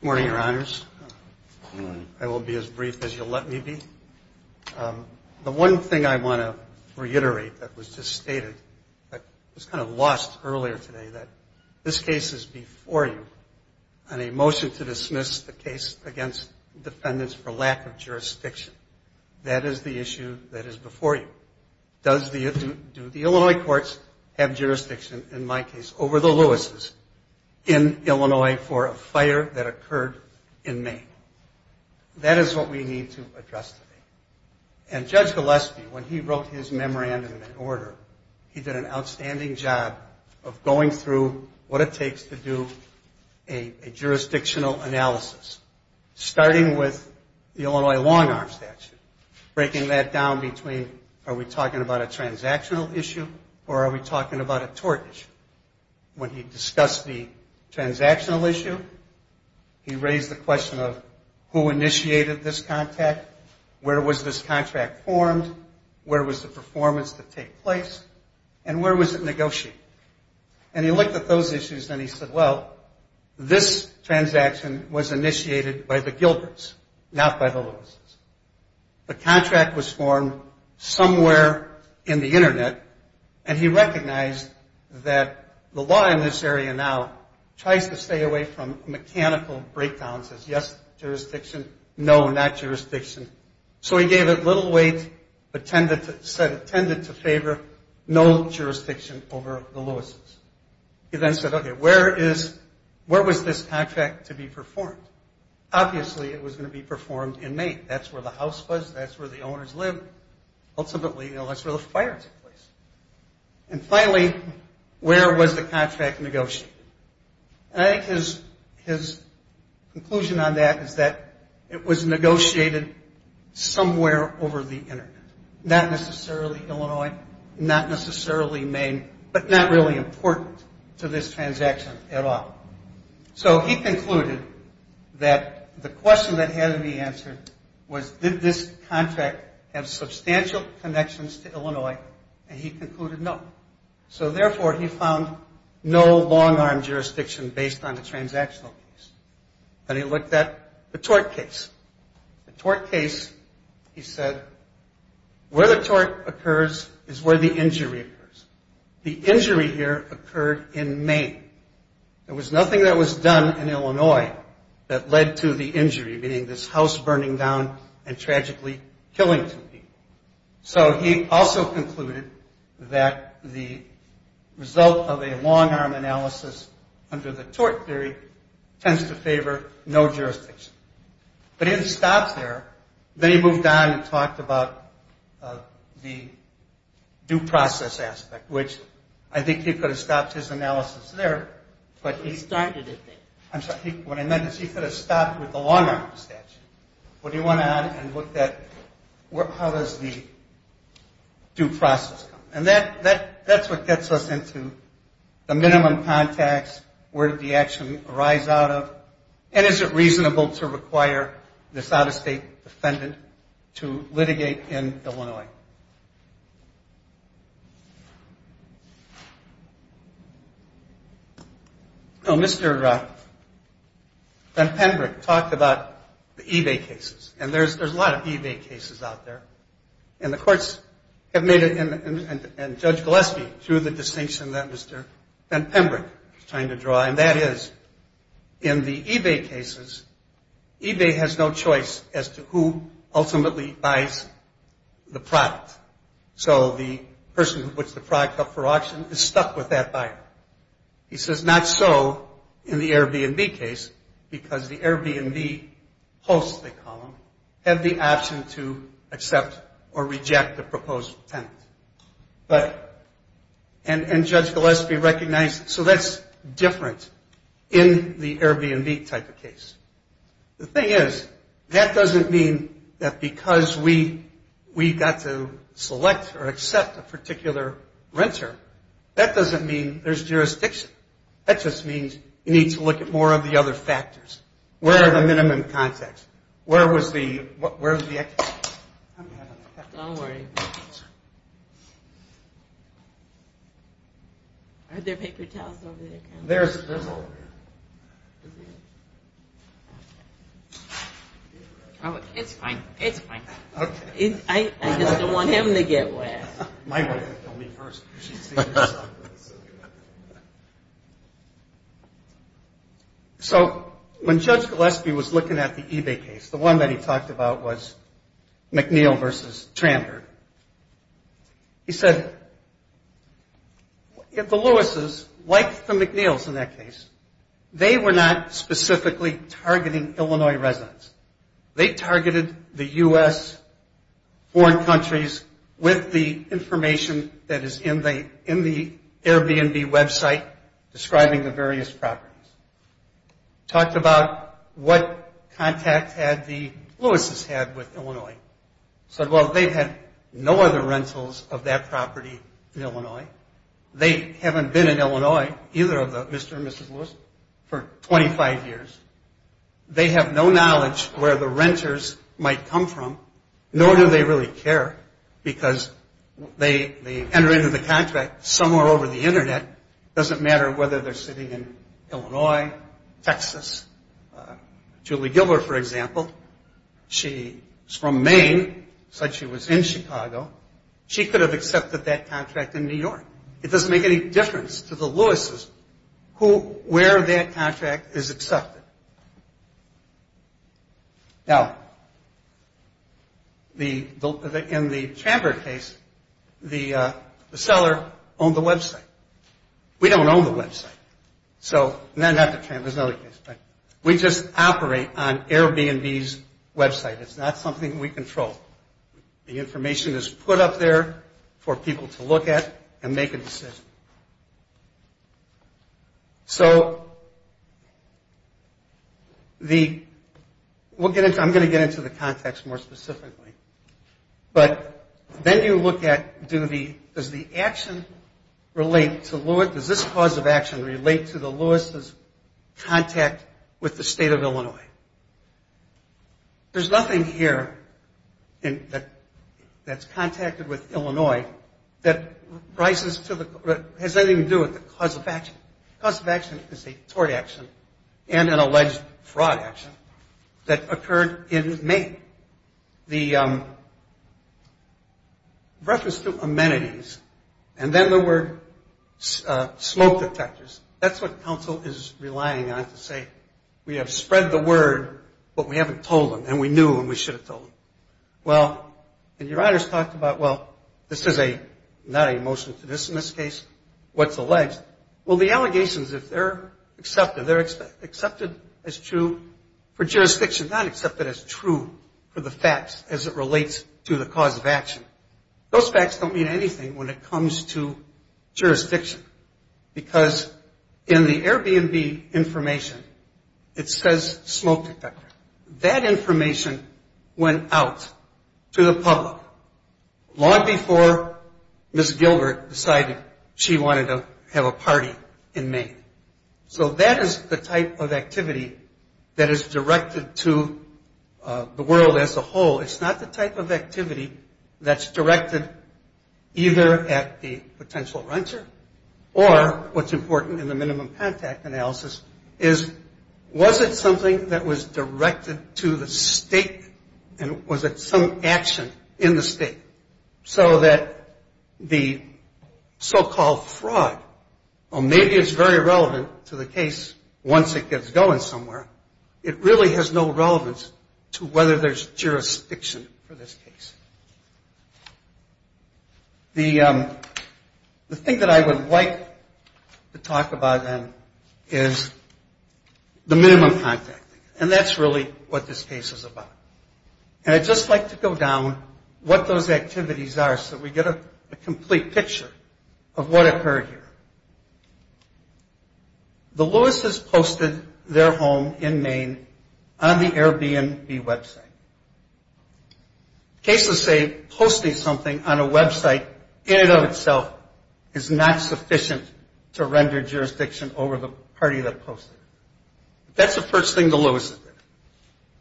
Good morning, Your Honors. I will be as brief as you'll let me be. The one thing I want to reiterate that was just stated, that was kind of lost earlier today, that this case is before you on a motion to dismiss the case against defendants for lack of jurisdiction. That is the issue that is before you. Do the Illinois courts have jurisdiction, in my case, over the Lewis's in Illinois for a fire that occurred in May? That is what we need to address today. And Judge Gillespie, when he wrote his memorandum in order, he did an outstanding job of going through what it takes to do a jurisdictional analysis, starting with the Illinois long-arm statute, breaking that down between, are we talking about a transactional issue or are we talking about a tort issue? When he discussed the transactional issue, he raised the question of who initiated this contract, where was this contract formed, where was the performance to take place, and where was it negotiated? And he looked at those issues and he said, well, this transaction was initiated by the Gilberts, not by the Lewis's. The contract was formed somewhere in the Internet, and he recognized that the law in this area now tries to stay away from mechanical breakdowns, says yes, jurisdiction, no, not jurisdiction. So he gave it little weight, said it tended to favor, no jurisdiction over the Lewis's. He then said, okay, where was this contract to be performed? Obviously, it was going to be performed in May. That's where the house was, that's where the owners lived. Ultimately, that's where the fire took place. And finally, where was the contract negotiated? I think his conclusion on that is that it was negotiated somewhere over the Internet, not necessarily Illinois, not necessarily Maine, but not really important to this transaction at all. So he concluded that the question that had to be answered was, did this contract have substantial connections to Illinois, and he concluded no. So therefore, he found no long-arm jurisdiction based on the transactional piece. Then he looked at the tort case. The tort case, he said, where the tort occurs is where the injury occurs. The injury here occurred in Maine. There was nothing that was done in Illinois that led to the injury, meaning this house burning down and tragically killing two people. So he also concluded that the result of a long-arm analysis under the tort theory tends to favor no jurisdiction. But he didn't stop there. Then he moved on and talked about the due process aspect, which I think he could have stopped his analysis there. He started it there. I'm sorry. What I meant is he could have stopped with the long-arm statute. But he went on and looked at how does the due process come. And that's what gets us into the minimum contacts, where did the action arise out of, and is it reasonable to require this out-of-state defendant to litigate in Illinois. Mr. Van Pembroek talked about the eBay cases, and there's a lot of eBay cases out there. And the courts have made it, and Judge Gillespie drew the distinction that Mr. Van Pembroek is trying to draw, and that is in the eBay cases, eBay has no choice as to who ultimately buys the product. So the person who puts the product up for auction is stuck with that buyer. He says not so in the Airbnb case because the Airbnb hosts, they call them, have the option to accept or reject the proposed tenant. But, and Judge Gillespie recognized, so that's different in the Airbnb type of case. The thing is, that doesn't mean that because we got to select or accept a particular renter, that doesn't mean there's jurisdiction. That just means you need to look at more of the other factors. Where are the minimum contacts? Where was the, where was the? Don't worry. Are there paper towels over there? There's a little. Oh, it's fine. It's fine. Okay. I just don't want him to get wet. My wife would kill me first. She'd see this. So when Judge Gillespie was looking at the eBay case, the one that he talked about was McNeil versus Trampert, he said, if the Lewises, like the McNeils in that case, they were not specifically targeting Illinois residents. They targeted the U.S. foreign countries with the information that is in the Airbnb website describing the various properties. Talked about what contact had the Lewises had with Illinois. Said, well, they've had no other rentals of that property in Illinois. They haven't been in Illinois, either of the Mr. and Mrs. Lewises, for 25 years. They have no knowledge where the renters might come from, nor do they really care, because they enter into the contract somewhere over the Internet. It doesn't matter whether they're sitting in Illinois, Texas. Julie Gilbert, for example, she's from Maine. Said she was in Chicago. She could have accepted that contract in New York. It doesn't make any difference to the Lewises where that contract is accepted. Now, in the Trampert case, the seller owned the website. We don't own the website. So, not the Trampert case, but we just operate on Airbnb's website. It's not something we control. The information is put up there for people to look at and make a decision. So, I'm going to get into the context more specifically. But then you look at, does the action relate to, does this cause of action relate to the Lewises' contact with the state of Illinois? There's nothing here that's contacted with Illinois that has anything to do with the cause of action. The cause of action is a tort action and an alleged fraud action that occurred in Maine. The reference to amenities and then the word smoke detectors, that's what counsel is relying on to say. We have spread the word, but we haven't told them, and we knew and we should have told them. Well, and your honors talked about, well, this is not a motion to dismiss case. What's alleged? Well, the allegations, if they're accepted, they're accepted as true for jurisdiction, not accepted as true for the facts as it relates to the cause of action. Those facts don't mean anything when it comes to jurisdiction because in the Airbnb information, it says smoke detector. That information went out to the public long before Ms. Gilbert decided she wanted to have a party in Maine. So, that is the type of activity that is directed to the world as a whole. It's not the type of activity that's directed either at the potential renter or what's important in the minimum contact analysis is was it something that was directed to the state and was it some action in the state so that the so-called fraud, well, maybe it's very relevant to the case once it gets going somewhere. It really has no relevance to whether there's jurisdiction for this case. The thing that I would like to talk about then is the minimum contact, and that's really what this case is about. And I'd just like to go down what those activities are so we get a complete picture of what occurred here. The Lewises posted their home in Maine on the Airbnb website. Cases say posting something on a website in and of itself is not sufficient to render jurisdiction over the party that posted it. That's the first thing the Lewises did.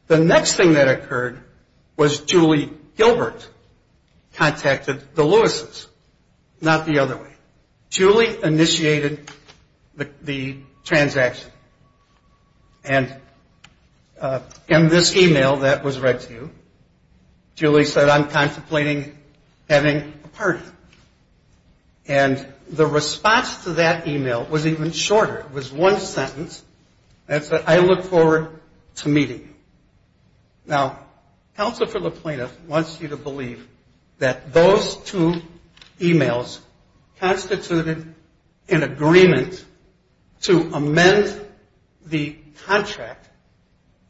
The next thing that occurred was Julie Gilbert contacted the Lewises, not the other way. Julie initiated the transaction, and in this email that was read to you, Julie said, I'm contemplating having a party. And the response to that email was even shorter. It was one sentence that said, I look forward to meeting you. Now, counsel for the plaintiff wants you to believe that those two emails constituted an agreement to amend the contract,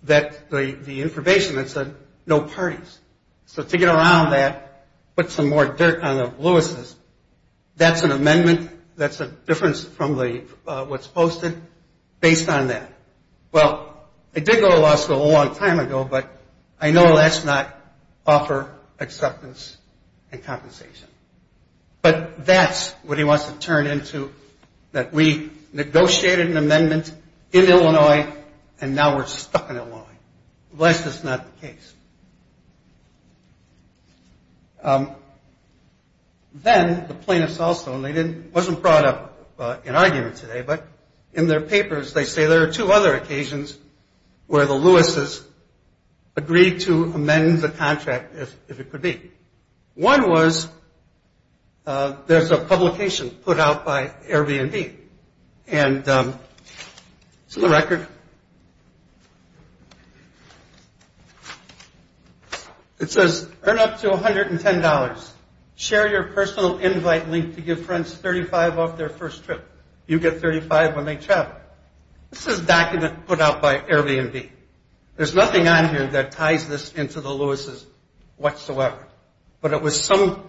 the information that said no parties. So to get around that, put some more dirt on the Lewises, that's an amendment, that's a difference from what's posted based on that. Well, they did go to law school a long time ago, but I know that's not offer acceptance and compensation. But that's what he wants to turn into, that we negotiated an amendment in Illinois and now we're stuck in Illinois, unless that's not the case. Then the plaintiffs also, and it wasn't brought up in argument today, but in their papers they say there are two other occasions where the Lewises agreed to amend the contract if it could be. One was, there's a publication put out by Airbnb, and it's in the record. It says, earn up to $110. Share your personal invite link to give friends 35 off their first trip. You get 35 when they travel. This is a document put out by Airbnb. There's nothing on here that ties this into the Lewises whatsoever. But it was some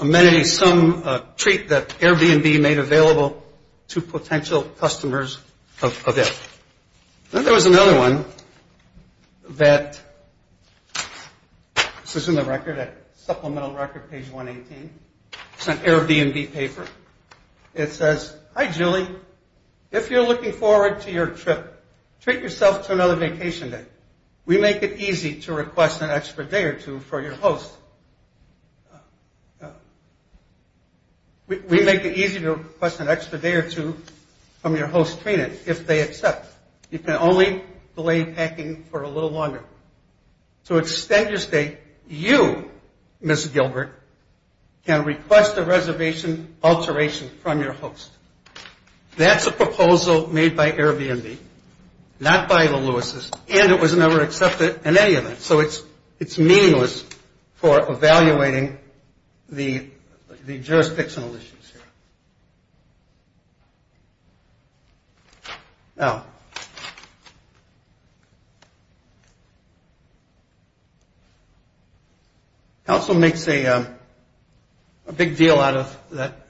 amenity, some treat that Airbnb made available to potential customers of it. Then there was another one that, this is in the record, supplemental record, page 118. It's an Airbnb paper. It says, hi, Julie. If you're looking forward to your trip, treat yourself to another vacation day. We make it easy to request an extra day or two for your host. We make it easy to request an extra day or two from your host, Trina, if they accept. You can only delay packing for a little longer. To extend your stay, you, Ms. Gilbert, can request a reservation alteration from your host. That's a proposal made by Airbnb, not by the Lewises, and it was never accepted in any event. So it's meaningless for evaluating the jurisdictional issues here. Now, it also makes a big deal out of that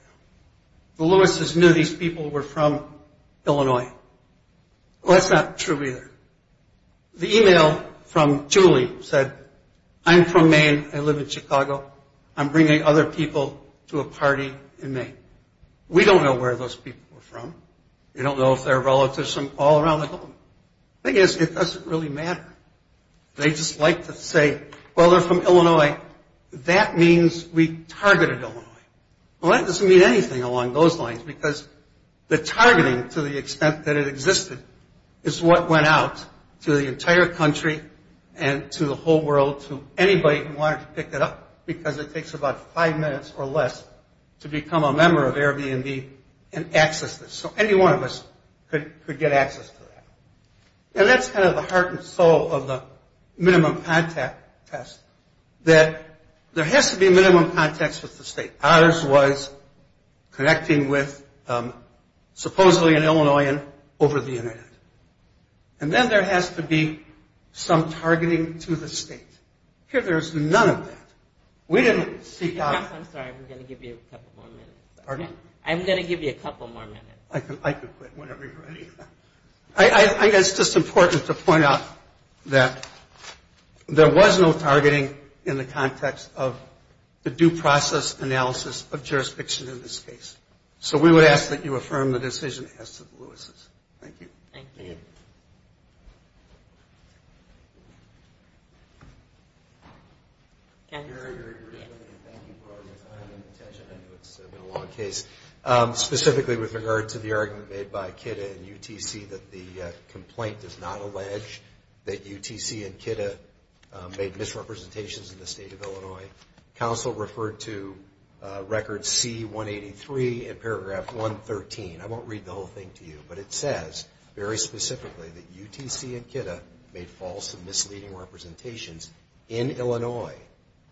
the Lewises knew these people were from Illinois. Well, that's not true either. The email from Julie said, I'm from Maine. I live in Chicago. I'm bringing other people to a party in Maine. We don't know where those people are from. We don't know if they're relatives from all around the globe. The thing is, it doesn't really matter. They just like to say, well, they're from Illinois. That means we targeted Illinois. Well, that doesn't mean anything along those lines, because the targeting to the extent that it existed is what went out to the entire country and to the whole world, to anybody who wanted to pick it up, because it takes about five minutes or less to become a member of Airbnb and access this. So any one of us could get access to that. And that's kind of the heart and soul of the minimum contact test, that there has to be minimum contacts with the state. Ours was connecting with supposedly an Illinoisan over the Internet. And then there has to be some targeting to the state. Here, there is none of that. We didn't seek out... I'm sorry. I'm going to give you a couple more minutes. Pardon? I'm going to give you a couple more minutes. I can quit whenever you're ready. I think it's just important to point out that there was no targeting in the context of the due process analysis of jurisdiction in this case. So we would ask that you affirm the decision as to the Lewis's. Thank you. Thank you. Thank you for all your time and attention. I know it's been a long case. Specifically with regard to the argument made by KIDA and UTC that the complaint does not allege that UTC and KIDA made misrepresentations in the state of Illinois. Counsel referred to Record C-183 in paragraph 113. I won't read the whole thing to you, but it says very specifically that UTC and KIDA made false and misleading representations in Illinois.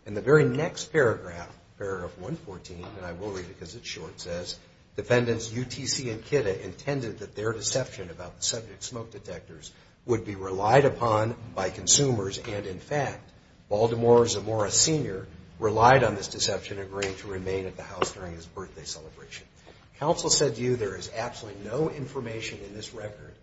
In the very next paragraph, paragraph 114, and I will read it because it's short, it says, Defendants UTC and KIDA intended that their deception about the subject smoke detectors would be relied upon by consumers and, in fact, Baltimore Zamora Sr. relied on this deception and agreed to remain at the house during his birthday celebration. Counsel said to you there is absolutely no information in this record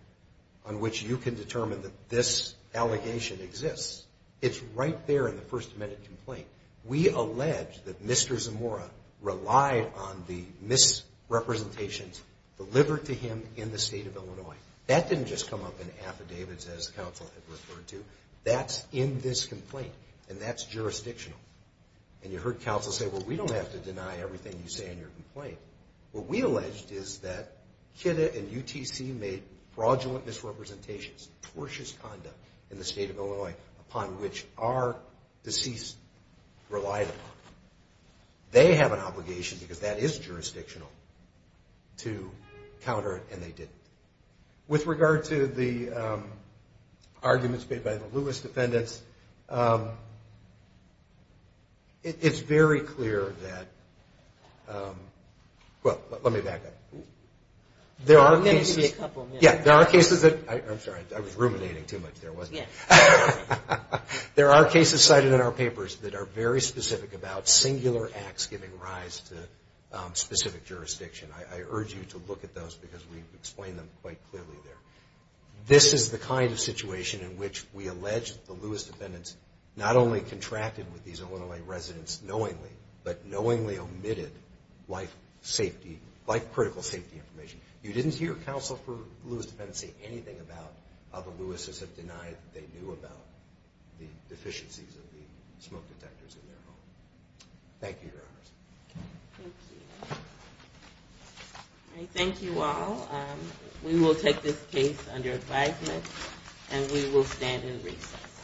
on which you can determine that this allegation exists. It's right there in the first amendment complaint. We allege that Mr. Zamora relied on the misrepresentations delivered to him in the state of Illinois. That didn't just come up in affidavits as counsel had referred to. That's in this complaint, and that's jurisdictional. And you heard counsel say, well, we don't have to deny everything you say in your complaint. What we alleged is that KIDA and UTC made fraudulent misrepresentations, tortious conduct in the state of Illinois upon which our deceased relied upon. They have an obligation, because that is jurisdictional, to counter it, and they didn't. With regard to the arguments made by the Lewis defendants, it's very clear that – well, let me back up. There are cases – I'm going to give you a couple minutes. Yeah, there are cases that – I'm sorry, I was ruminating too much there, wasn't I? Yeah. There are cases cited in our papers that are very specific about singular acts giving rise to specific jurisdiction. I urge you to look at those, because we've explained them quite clearly there. This is the kind of situation in which we allege the Lewis defendants not only contracted with these Illinois residents knowingly, but knowingly omitted life-critical safety information. You didn't hear counsel for the Lewis defendants say anything about how the Lewises have denied that they knew about the deficiencies of the smoke detectors in their home. Thank you, Your Honors. Thank you. I thank you all. We will take this case under advisement, and we will stand in recess.